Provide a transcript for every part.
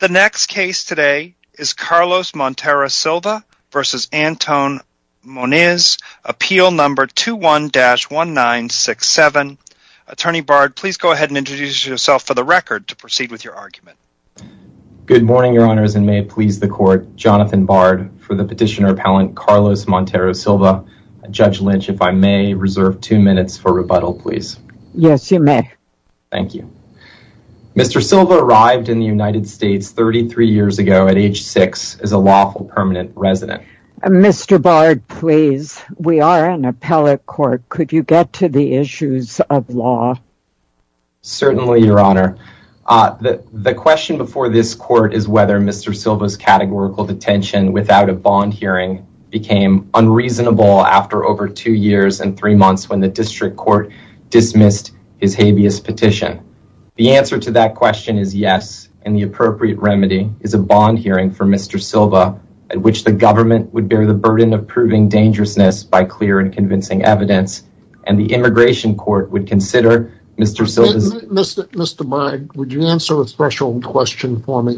The next case today is Carlos Montero Silva versus Anton Moniz. Appeal number 21-1967. Attorney Bard, please go ahead and introduce yourself for the record to proceed with your argument. Good morning, Your Honors, and may it please the court. Jonathan Bard for the petitioner appellant Carlos Montero Silva. Judge Lynch, if I may, reserve two minutes for rebuttal, please. Yes, you may. Thank you. Mr. Silva arrived in the United States 33 years ago at age six as a lawful permanent resident. Mr. Bard, please, we are an appellate court. Could you get to the issues of law? Certainly, Your Honor. The question before this court is whether Mr. Silva's categorical detention without a bond hearing became unreasonable after over two years and three months when the district court dismissed his habeas petition. The answer to that question is yes, and the appropriate remedy is a bond hearing for Mr. Silva at which the government would bear the burden of proving dangerousness by clear and convincing evidence, and the immigration court would consider Mr. Silva's... Mr. Bard, would you answer a threshold question for me?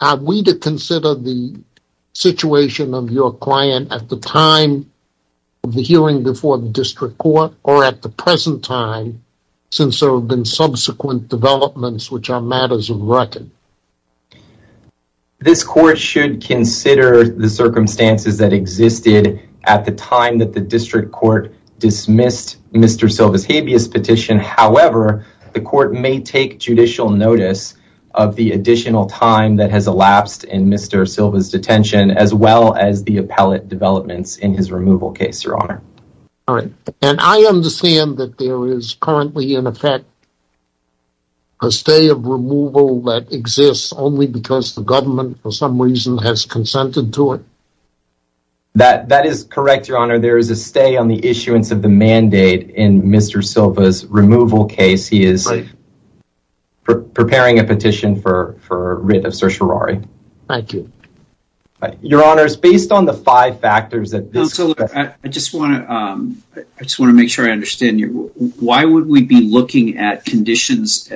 Are we to consider the situation of your client at the time of the hearing before the district court or at the present time since there have been subsequent developments which are matters of record? This court should consider the circumstances that existed at the time that the district court dismissed Mr. Silva's habeas petition. However, the court may take judicial notice of the additional time that has elapsed in Mr. Silva's removal case, Your Honor. All right, and I understand that there is currently, in effect, a stay of removal that exists only because the government for some reason has consented to it? That is correct, Your Honor. There is a stay on the issuance of the mandate in Mr. Silva's removal case. He is preparing a petition for writ of certiorari. Thank you. Your Honor, based on the five factors... I just want to make sure I understand you. Why would we be looking at conditions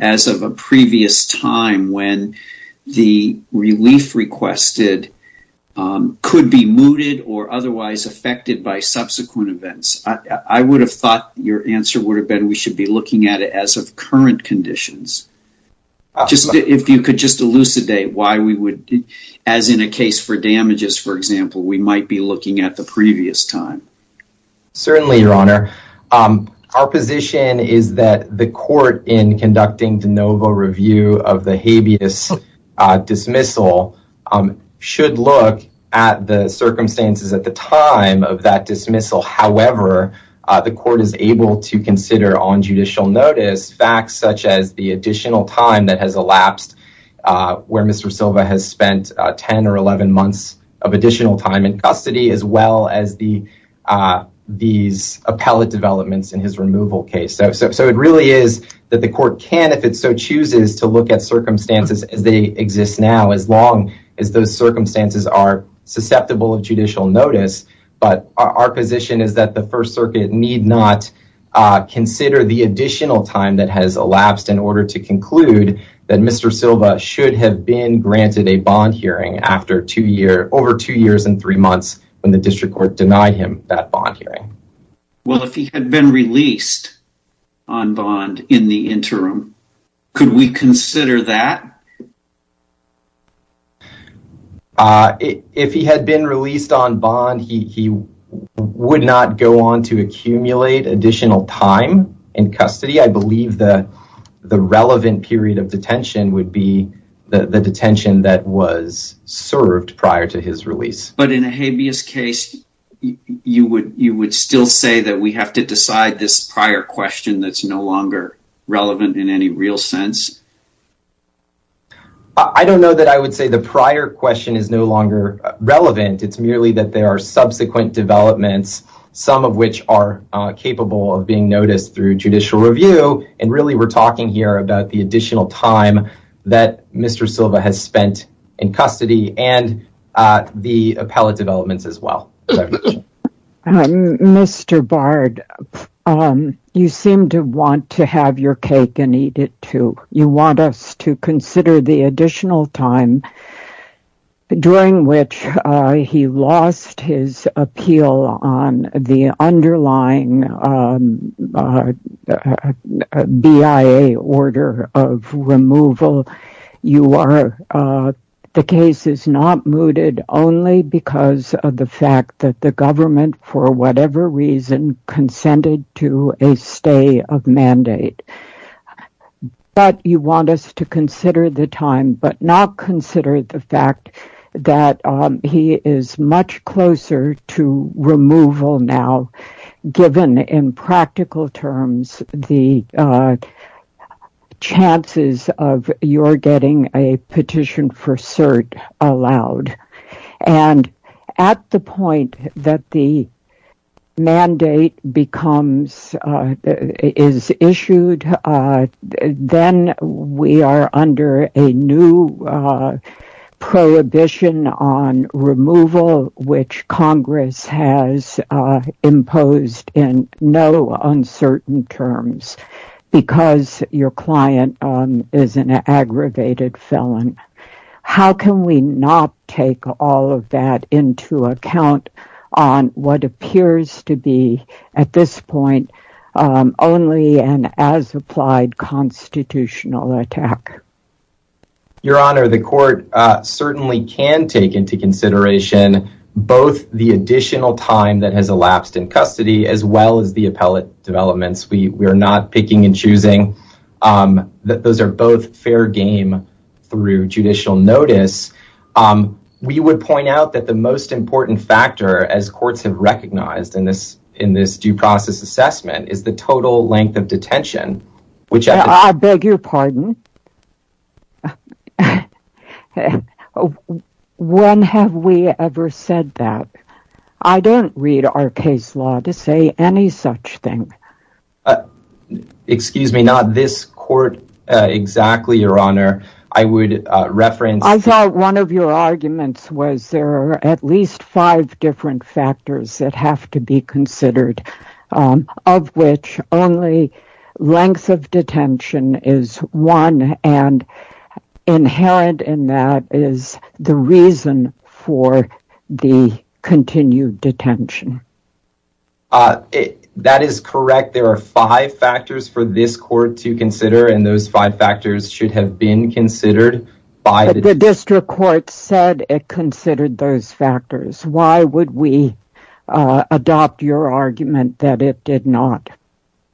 as of a previous time when the relief requested could be mooted or otherwise affected by subsequent events? I would have thought your answer would have been we should be looking at it as of current conditions. If you could just elucidate why we would, as in a case for damages, for example, we might be looking at the previous time. Certainly, Your Honor. Our position is that the court, in conducting de novo review of the habeas dismissal, should look at the circumstances at the time of that dismissal. However, the court is able to consider on judicial notice facts such as the additional time that has elapsed, where Mr. Silva has spent 10 or 11 months of additional time in custody, as well as these appellate developments in his removal case. So it really is that the court can, if it so chooses, to look at circumstances as they exist now, as long as those circumstances are susceptible of judicial notice. But our position is that the First Circuit need not consider the additional time that has elapsed in order to conclude that Mr. Silva should have been granted a bond hearing after two years, over two years and three months, when the district court denied him that bond hearing. Well, if he had been released on bond in the interim, could we consider that? If he had been released on bond, he would not go on to accumulate additional time in custody. I believe that the relevant period of detention would be the detention that was served prior to his release. But in a habeas case, you would still say that we have to decide this prior question that's no longer relevant in any real sense? I don't know that I would say the prior question is no longer relevant. It's merely that there are cases which are capable of being noticed through judicial review, and really we're talking here about the additional time that Mr. Silva has spent in custody and the appellate developments as well. Mr. Bard, you seem to want to have your cake and eat it too. You want us to consider the additional time during which he lost his appeal on the underlying BIA order of removal. The case is not mooted only because of the fact that the government, for whatever reason, consented to a stay of mandate. But you want us to consider the time, but not consider the closer to removal now, given in practical terms the chances of your getting a petition for cert allowed. And at the point that the mandate becomes, is issued, then we are under a new prohibition on removal, which Congress has imposed in no uncertain terms, because your client is an aggravated felon. How can we not take all of that into account on what appears to be, at this point, only an as-applied constitutional attack? Your Honor, the court certainly can take into consideration both the additional time that has elapsed in custody, as well as the appellate developments. We are not picking and choosing. Those are both fair game through judicial notice. We would point out that the most important factor, as courts have recognized in this due process assessment, is the I beg your pardon. When have we ever said that? I don't read our case law to say any such thing. Excuse me, not this court exactly, Your Honor. I would reference... I thought one of your arguments was there are at least five different factors that have to be is one, and inherent in that is the reason for the continued detention. That is correct. There are five factors for this court to consider, and those five factors should have been considered by the... But the district court said it considered those factors. Why would we adopt your argument that it did not?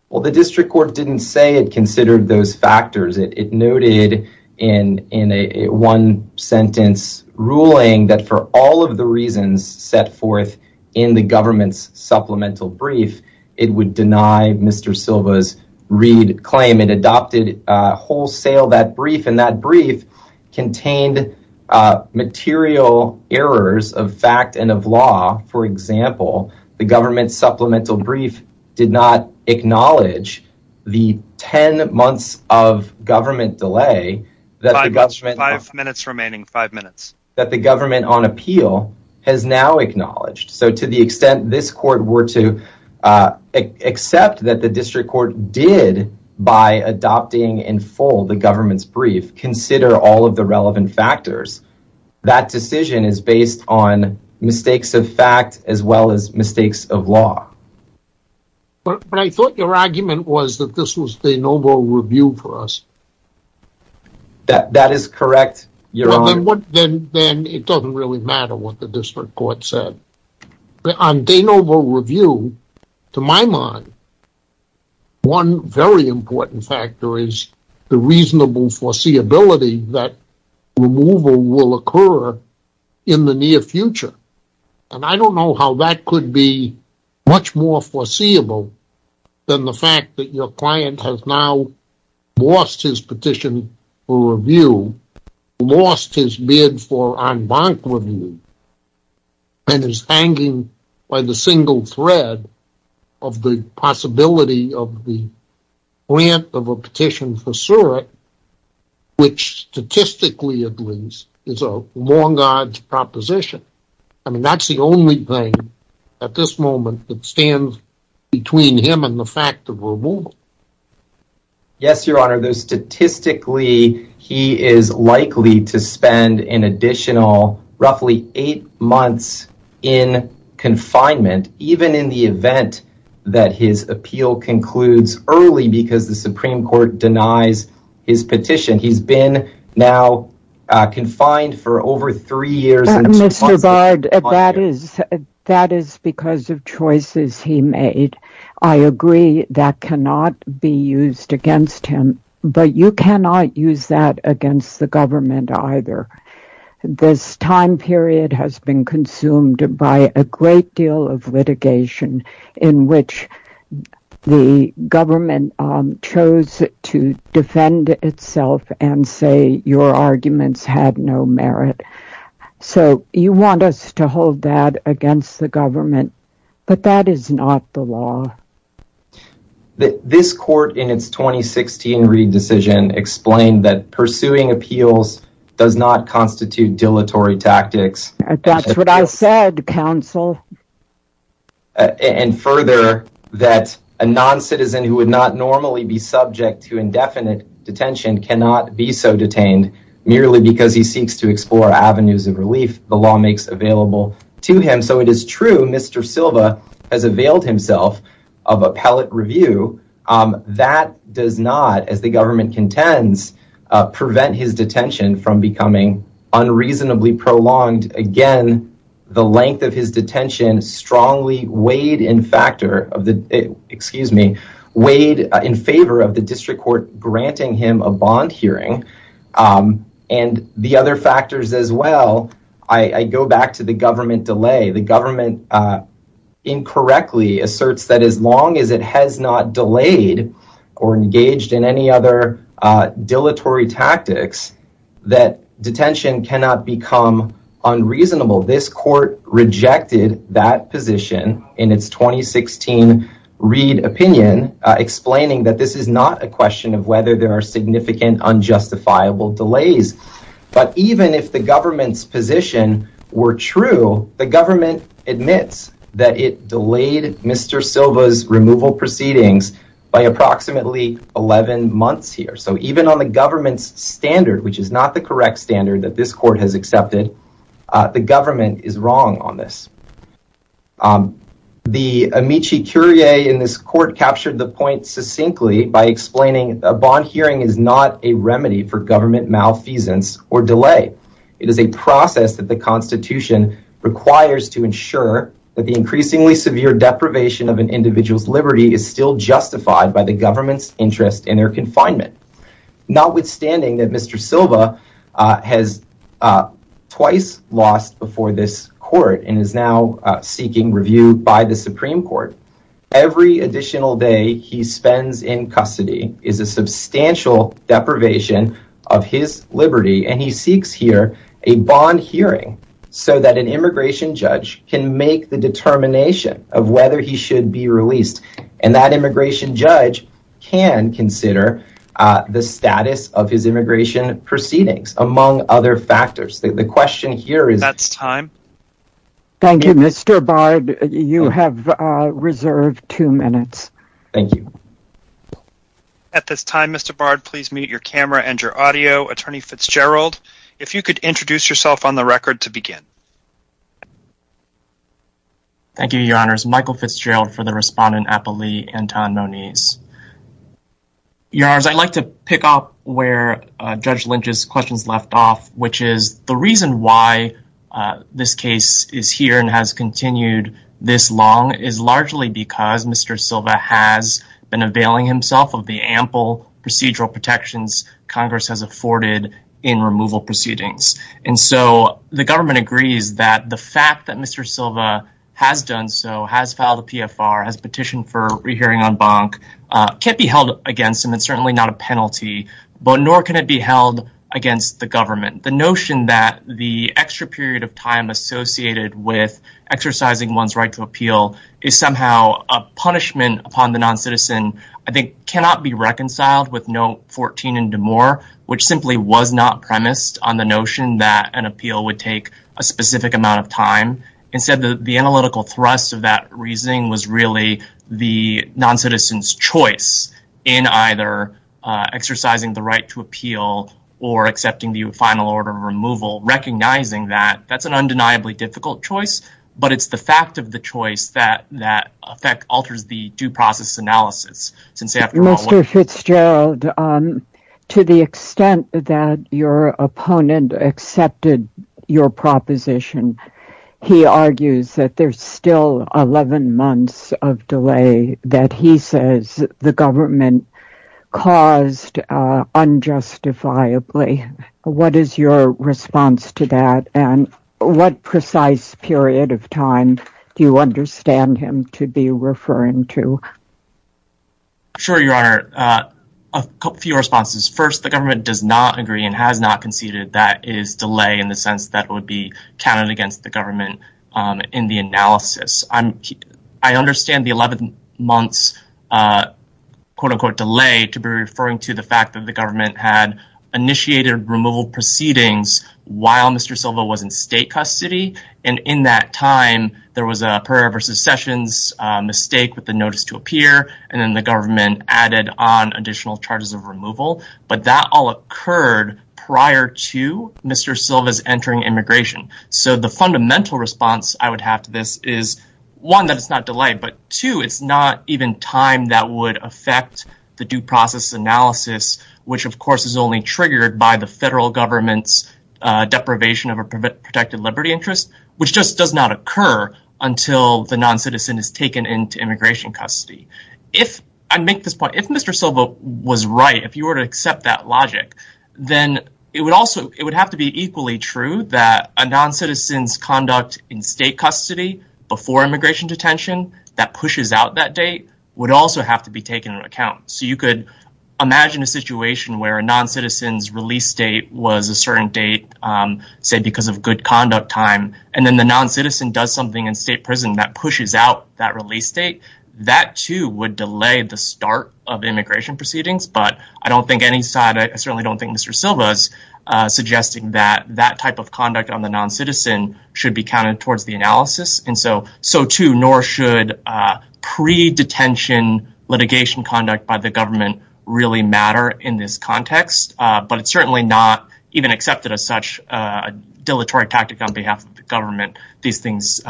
Well, the district court didn't say it considered those factors. It noted in a one-sentence ruling that for all of the reasons set forth in the government's supplemental brief, it would deny Mr. Silva's Reid claim. It adopted wholesale that brief, and that brief contained material errors of fact and of law. For example, the government's supplemental brief did not acknowledge the 10 months of government delay that the government... Five minutes remaining, five minutes. That the government on appeal has now acknowledged. So to the extent this court were to accept that the district court did by adopting in full the government's brief consider all of the relevant factors, that decision is based on mistakes of fact as well as mistakes of law. But I thought your argument was that this was de novo review for us. That is correct. Then it doesn't really matter what the district court said. On de novo review, to my mind, one very important factor is the reasonable foreseeability that removal will occur in the near future. And I don't know how that could be much more foreseeable than the fact that your client has now lost his petition for review, lost his bid for en banc review, and is hanging by the single thread of the possibility of the grant of a petition for is a long-odd proposition. I mean, that's the only thing at this moment that stands between him and the fact of removal. Yes, your honor. Statistically, he is likely to spend an additional roughly eight months in confinement, even in the event that his appeal concludes early because the Supreme Court denies his petition. He's been now confined for over three years. Mr. Bard, that is because of choices he made. I agree that cannot be used against him, but you cannot use that against the government either. This time period has been consumed by a great deal of litigation in which the government chose to defend itself and say your arguments had no merit. So you want us to hold that against the government, but that is not the law. This court in its 2016 re-decision explained that pursuing appeals does not constitute dilatory tactics. That's what I said, counsel. And further, that a non-citizen who would not normally be subject to indefinite detention cannot be so detained merely because he seeks to explore avenues of relief the law makes available to him. So it is true Mr. Silva has availed himself of appellate review. That does not, as the government contends, prevent his detention from becoming unreasonably prolonged. Again, the length of his detention strongly weighed in favor of the district court granting him a bond hearing. And the other factors as well, I go back to the government delay. The government incorrectly asserts that as long as it has not delayed or engaged in any other dilatory tactics, that detention cannot become unreasonable. This court rejected that position in its 2016 read opinion explaining that this is not a question of whether there are significant unjustifiable delays. But even if the government's position were true, the government admits that it delayed Mr. Silva's removal proceedings by approximately 11 months here. So even on the government's standard, which is not the correct standard that this court has accepted, the government is wrong on this. The Amici Curie in this court captured the point succinctly by explaining a bond hearing is not a remedy for government malfeasance or delay. It is a process that the constitution requires to ensure that the increasingly severe deprivation of an individual's liberty is still justified by the government's interest in their confinement. Notwithstanding that Mr. Silva has twice lost before this court and is now seeking review by the Supreme Court, every additional day he spends in custody is a substantial deprivation of his liberty and he seeks here a bond hearing so that an immigration judge can make the determination of whether he should be released and that immigration judge can consider the status of his immigration proceedings among other factors. The question here is... That's time. Thank you Mr. Bard. You have reserved two minutes. Thank you. At this time Mr. Bard, please mute your camera and your audio. Attorney Fitzgerald, if you could introduce yourself on the record to begin. Thank you, your honors. Michael Fitzgerald for the respondent, Appali Anton Moniz. Your honors, I'd like to pick up where Judge Lynch's questions left off, which is the reason why this case is here and has continued this long is largely because Mr. Silva has been availing himself of the ample procedural protections Congress has afforded in removal proceedings and so the government agrees that the fact that Mr. Silva has done so, has filed a PFR, has petitioned for rehearing on bonk, can't be held against him. It's certainly not a penalty, but nor can it be held against the government. The notion that the extra period of time associated with exercising one's right to appeal is somehow a punishment upon the non-citizen, I think cannot be reconciled with note 14 and more, which simply was not premised on the notion that an appeal would take a specific amount of time. Instead, the analytical thrust of that reasoning was really the non-citizen's choice in either exercising the right to appeal or accepting the final order of removal, recognizing that that's an undeniably difficult choice, but it's the fact of the choice that that effect alters the due process analysis. Mr. Fitzgerald, to the extent that your opponent accepted your proposition, he argues that there's still 11 months of delay that he says the government caused unjustifiably. What is your response to that and what precise period of time do you understand him to be referring to? Sure, your honor. A few responses. First, the government does not agree and has not conceded that it is delay in the sense that it would be counted against the government in the analysis. I understand the 11 months quote-unquote delay to be referring to the fact that the government had initiated removal proceedings while Mr. Silva was in state custody, and in that time, there was a secession mistake with the notice to appear, and then the government added on additional charges of removal, but that all occurred prior to Mr. Silva's entering immigration. So the fundamental response I would have to this is, one, that it's not delay, but two, it's not even time that would affect the due process analysis, which of course is only triggered by the federal government's protected liberty interest, which just does not occur until the non-citizen is taken into immigration custody. If I make this point, if Mr. Silva was right, if you were to accept that logic, then it would have to be equally true that a non-citizen's conduct in state custody before immigration detention that pushes out that date would also have to be taken into account. So you say because of good conduct time, and then the non-citizen does something in state prison that pushes out that release date, that too would delay the start of immigration proceedings, but I don't think any side, I certainly don't think Mr. Silva's suggesting that that type of conduct on the non-citizen should be counted towards the analysis, and so two, nor should pre-detention litigation conduct by the government really matter in this context, but it's certainly not accepted as such a dilatory tactic on behalf of the government. These things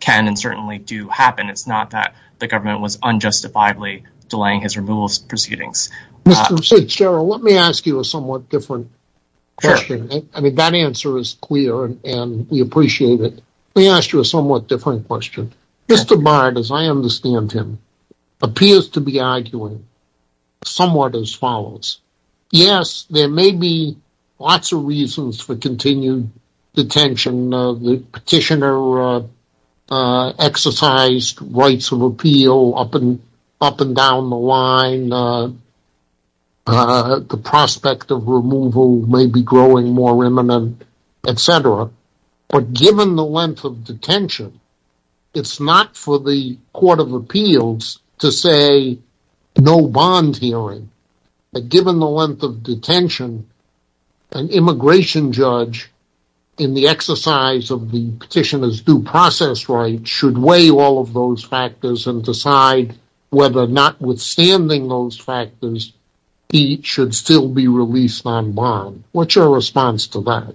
can and certainly do happen. It's not that the government was unjustifiably delaying his removal proceedings. Mr. Fitzgerald, let me ask you a somewhat different question. I mean, that answer is clear and we appreciate it. Let me ask you a somewhat different question. Mr. Bard, as I for continued detention, the petitioner exercised rights of appeal up and down the line. The prospect of removal may be growing more imminent, etc., but given the length of detention, it's not for the court of appeals to say no bond hearing, but given the length of detention an immigration judge, in the exercise of the petitioner's due process right, should weigh all of those factors and decide whether notwithstanding those factors, he should still be released on bond. What's your response to that?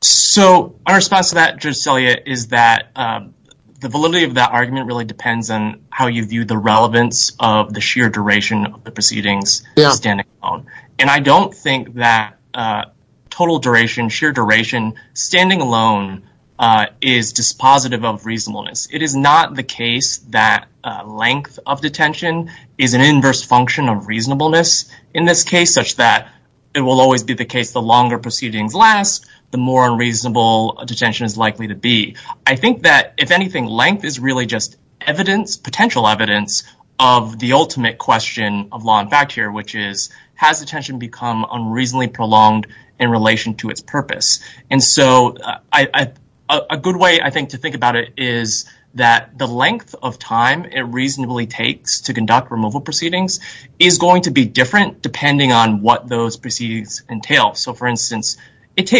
So our response to that, Judge Celia, is that the validity of that argument really depends on how you view the relevance of the sheer duration of the proceedings standing alone, and I don't think that total duration, sheer duration, standing alone is dispositive of reasonableness. It is not the case that length of detention is an inverse function of reasonableness in this case, such that it will always be the case the longer proceedings last, the more unreasonable detention is likely to be. I think that, if anything, length is really just potential evidence of the ultimate question of law and fact here, which is, has detention become unreasonably prolonged in relation to its purpose? And so a good way, I think, to think about it is that the length of time it reasonably takes to conduct removal proceedings is going to be different depending on what those proceedings entail. So, for instance, it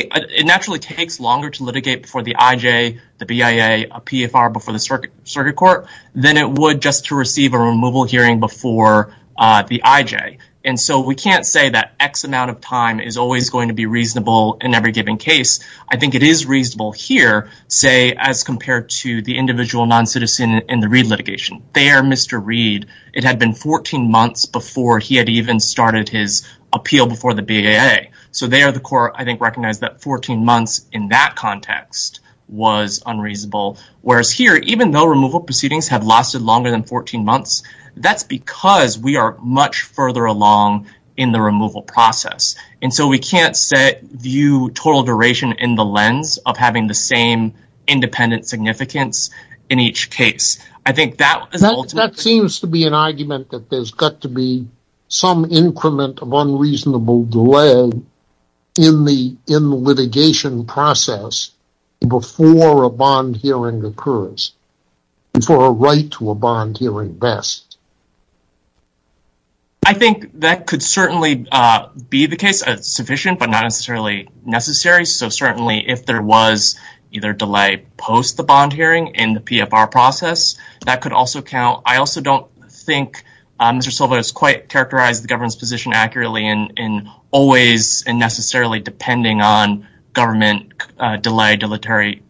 naturally takes longer to litigate before the IJ, the BIA, a PFR before the circuit court than it would just to receive a removal hearing before the IJ. And so we can't say that X amount of time is always going to be reasonable in every given case. I think it is reasonable here, say, as compared to the individual non-citizen in the Reid litigation. There, Mr. Reid, it had been 14 months before he had even started his appeal before the BIA. So there, the court, I think, recognized that 14 months in that context was unreasonable. Whereas here, even though removal proceedings have lasted longer than 14 months, that's because we are much further along in the removal process. And so we can't view total duration in the lens of having the same independent significance in each case. I think that seems to be an argument that there's got to be some increment of unreasonable delay in the litigation process before a bond hearing occurs, before a right to a bond hearing best. I think that could certainly be the case. It's sufficient, but not necessarily necessary. So certainly if there was either delay post the bond hearing in the PFR process, that could also count. I also don't think Mr. Silva has quite characterized the government's position accurately in always and necessarily depending on government delay, dilatory,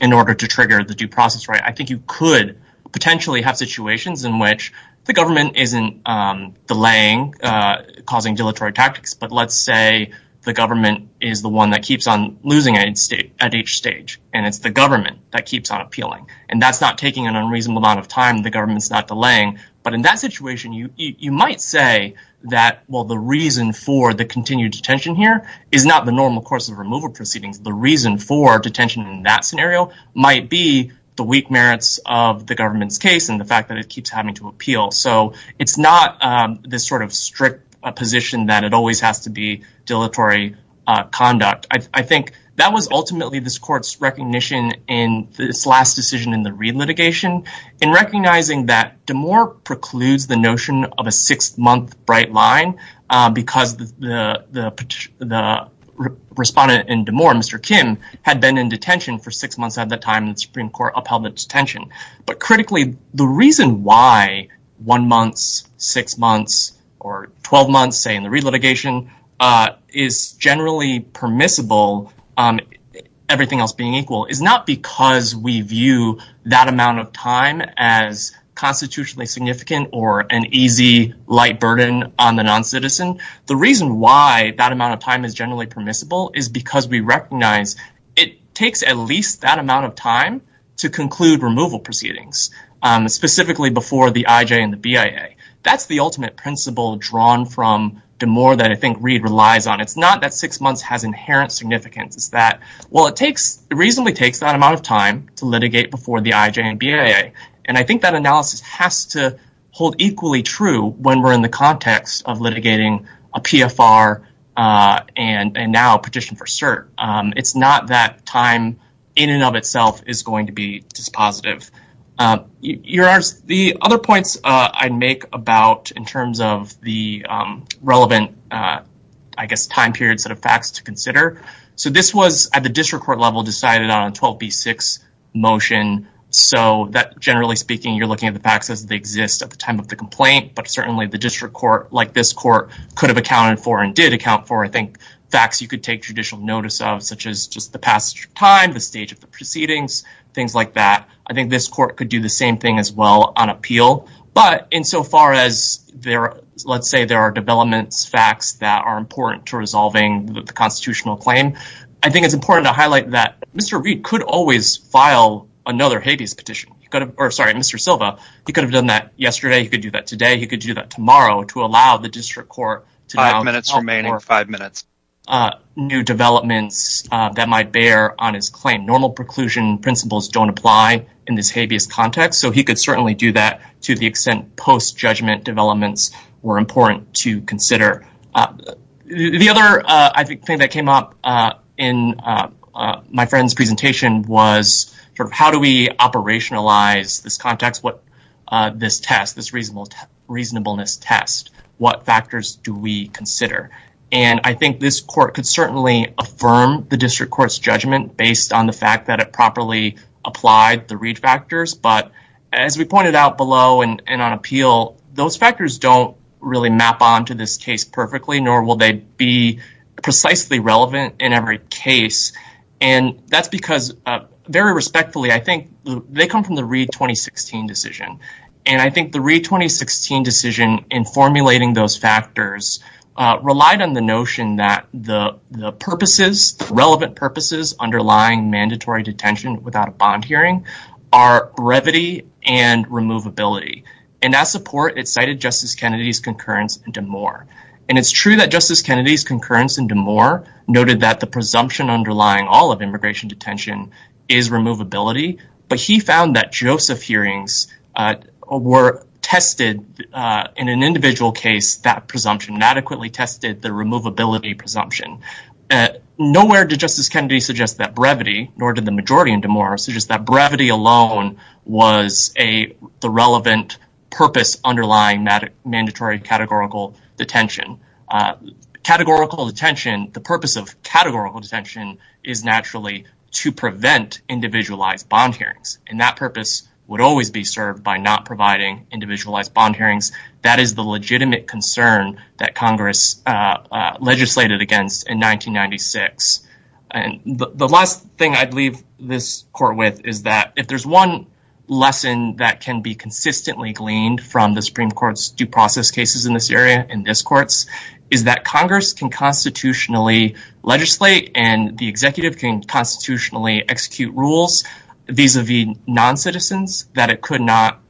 in order to trigger the due process. I think you could potentially have situations in which the government isn't delaying, causing dilatory tactics. But let's say the government is the one that keeps on losing at each stage, and it's the government that keeps on appealing. And that's not taking an unreasonable amount of time. The government's not delaying. But in that situation, you might say that, well, the reason for the continued detention here is not the normal course of removal proceedings. The reason for detention in that scenario might be the weak merits of the government's case and the fact that it keeps having to appeal. So it's not this sort of strict position that it always has to be dilatory conduct. I think that was ultimately this court's recognition in this last decision in the re-litigation in recognizing that Damore precludes the notion of a six-month bright line, because the respondent in Damore, Mr. Kim, had been in detention for six months at the time the Supreme Court upheld the detention. But critically, the reason why one month, six months, or 12 months, say, in the re-litigation is generally permissible, everything else being equal, is not because we view that amount of time as constitutionally significant or an easy, light burden on the non-citizen. The reason why that amount of time is generally permissible is because we recognize it takes at least that amount of time to conclude removal proceedings, specifically before the IJ and the BIA. That's the ultimate principle drawn from Damore that I think Reed relies on. It's not that six months has inherent significance. It's that, well, it reasonably takes that amount of time to litigate before the IJ and I think that analysis has to hold equally true when we're in the context of litigating a PFR and now a petition for cert. It's not that time in and of itself is going to be dispositive. The other points I'd make about in terms of the relevant, I guess, time period sort of facts to the facts as they exist at the time of the complaint, but certainly the district court, like this court, could have accounted for and did account for, I think, facts you could take judicial notice of, such as just the passage of time, the stage of the proceedings, things like that. I think this court could do the same thing as well on appeal, but insofar as there, let's say there are developments, facts that are important to resolving the constitutional claim, I think it's important to highlight that Mr. Reed could always file another habeas petition. Sorry, Mr. Silva, he could have done that yesterday, he could do that today, he could do that tomorrow to allow the district court to have minutes remaining or five minutes, new developments that might bear on his claim. Normal preclusion principles don't apply in this habeas context, so he could certainly do that to the extent post-judgment developments were important to consider. The other, I think, that came up in my friend's presentation was sort of how do we operationalize this context, what this test, this reasonableness test, what factors do we consider? And I think this court could certainly affirm the district court's judgment based on the fact that it properly applied the Reed factors, but as we pointed out below and on appeal, those factors don't really map onto this case perfectly, nor will they be precisely relevant in every case, and that's because, very respectfully, I think they come from the Reed 2016 decision, and I think the Reed 2016 decision in formulating those factors relied on the notion that the purposes, relevant purposes underlying mandatory detention without a bond hearing are brevity and removability, and that support, it cited Justice Kennedy's concurrence in D'Amour, and it's true that Justice Kennedy's concurrence in D'Amour noted that the presumption underlying all of immigration detention is removability, but he found that Joseph hearings were tested in an individual case, that presumption adequately tested the removability presumption. Nowhere did Justice Kennedy suggest that brevity, nor did the majority in D'Amour suggest that the relevant purpose underlying mandatory categorical detention. Categorical detention, the purpose of categorical detention is naturally to prevent individualized bond hearings, and that purpose would always be served by not providing individualized bond hearings. That is the legitimate concern that Congress legislated against in 1996, and the last thing I'd leave this court with is that if there's one lesson that can be consistently gleaned from the Supreme Court's due process cases in this area, in this court's, is that Congress can constitutionally legislate, and the executive can constitutionally execute rules vis-a-vis non-citizens that it could not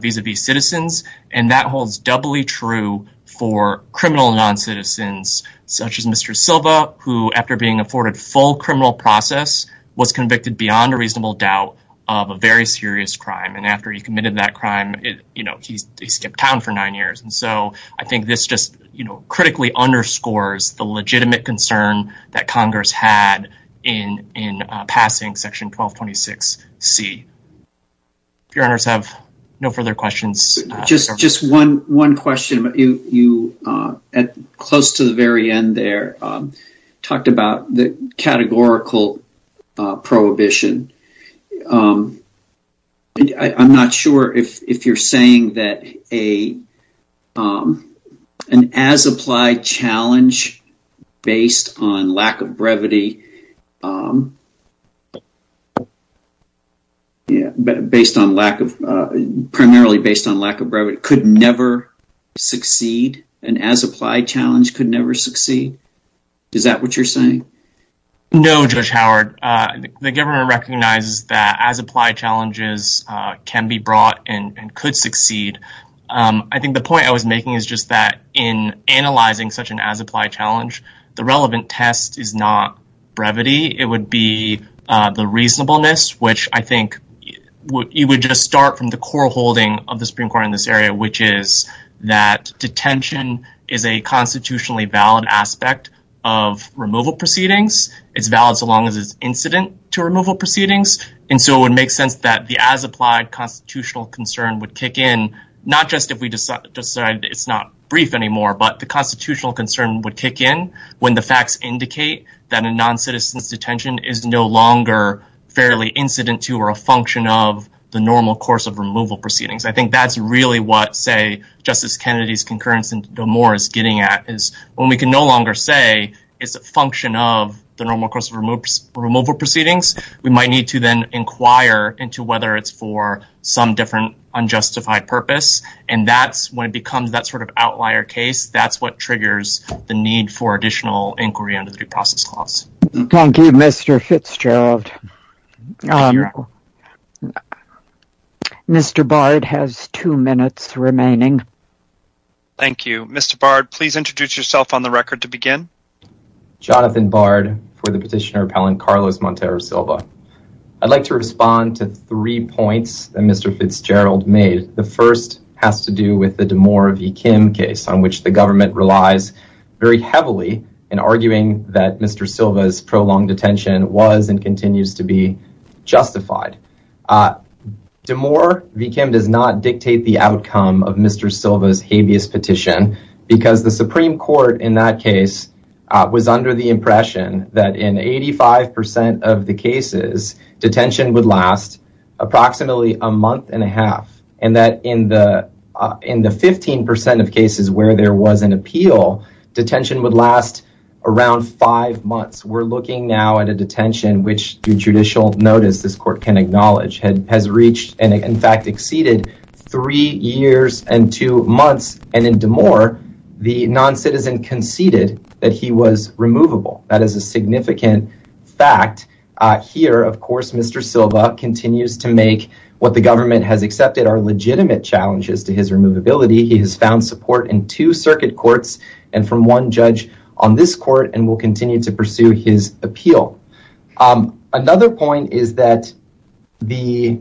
vis-a-vis citizens, and that holds doubly true for criminal non-citizens such as Mr. Silva, who, after being afforded full criminal process, was convicted beyond a reasonable doubt of a very serious crime, and after he committed that crime, you know, he skipped town for nine years, and so I think this just, you know, critically underscores the legitimate concern that Congress had in passing section 1226C. If your honors have no further questions. Just one question, you, close to the very end there, talked about the categorical prohibition. I'm not sure if you're saying that an as-applied challenge based on lack of brevity, yeah, based on lack of, primarily based on lack of brevity, could never succeed, an as-applied challenge could never succeed. Is that what you're saying? No, Judge Howard. The government recognizes that as-applied challenges can be brought and could succeed. I think the point I was making is just that in analyzing such an as-applied challenge, the relevant test is not brevity. It would be the reasonableness, which I think you would just start from the core holding of the Supreme Court in this area, which is that detention is a constitutionally valid aspect of removal proceedings. It's valid so long as it's incident to removal proceedings, and so it would make sense that the as-applied constitutional concern would kick in, not just if we decide it's not brief anymore, but the constitutional concern would kick in when the facts indicate that a non-citizen's detention is no longer fairly incident to or a function of the normal course of removal proceedings. I think that's really what, say, Justice Kennedy's concurrence in D'Amour is getting at, is when we can no longer say it's a function of the normal course of removal proceedings, we might need to then inquire into whether it's for some different unjustified purpose, and that's when it becomes that sort of outlier case. That's what triggers the need for additional inquiry under the due process clause. Thank you, Mr. Fitzgerald. Mr. Bard has two minutes remaining. Thank you. Mr. Bard, please introduce yourself on the record to begin. Jonathan Bard for the Petitioner Appellant Carlos Montero Silva. I'd like to address the two points that Mr. Fitzgerald made. The first has to do with the D'Amour v. Kim case, on which the government relies very heavily in arguing that Mr. Silva's prolonged detention was and continues to be justified. D'Amour v. Kim does not dictate the outcome of Mr. Silva's habeas petition, because the Supreme Court in that case was under the impression that in 85% of the cases, detention would last approximately a month and a half, and that in the 15% of cases where there was an appeal, detention would last around five months. We're looking now at a detention which, through judicial notice, this court can acknowledge, has reached and in fact exceeded three years and two months, and in D'Amour, the non-citizen conceded that he was here. Of course, Mr. Silva continues to make what the government has accepted are legitimate challenges to his removability. He has found support in two circuit courts and from one judge on this court and will continue to pursue his appeal. Another point is that the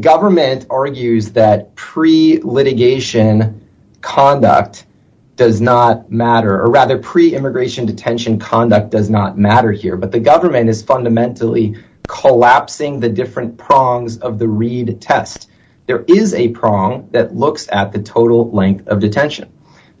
government argues that pre-litigation conduct does not matter, or rather pre-immigration detention conduct does not matter here, but the government is fundamentally collapsing the different prongs of the Reid test. There is a prong that looks at the total length of detention.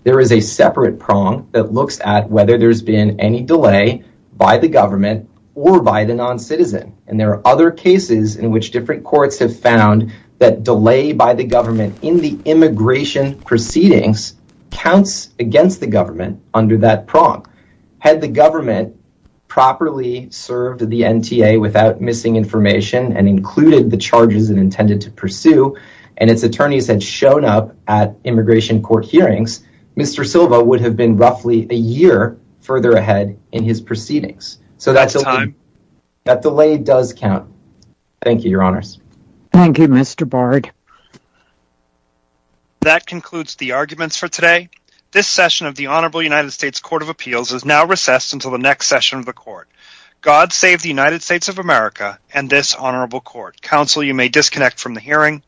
There is a separate prong that looks at whether there's been any delay by the government or by the non-citizen, and there are other cases in which different courts have found that delay by the government in the immigration proceedings counts against the government under that prong. Had the government properly served the NTA without missing information and included the charges it intended to pursue and its attorneys had shown up at immigration court hearings, Mr. Silva would have been roughly a year further ahead in his proceedings. So that's a time that delay does count. Thank you, your honors. Thank you, Mr. Bard. That concludes the arguments for today. This session of the Honorable United States Court of Appeals is now recessed until the next session of the court. God save the United States of America and this honorable court. Counsel, you may disconnect from the hearing.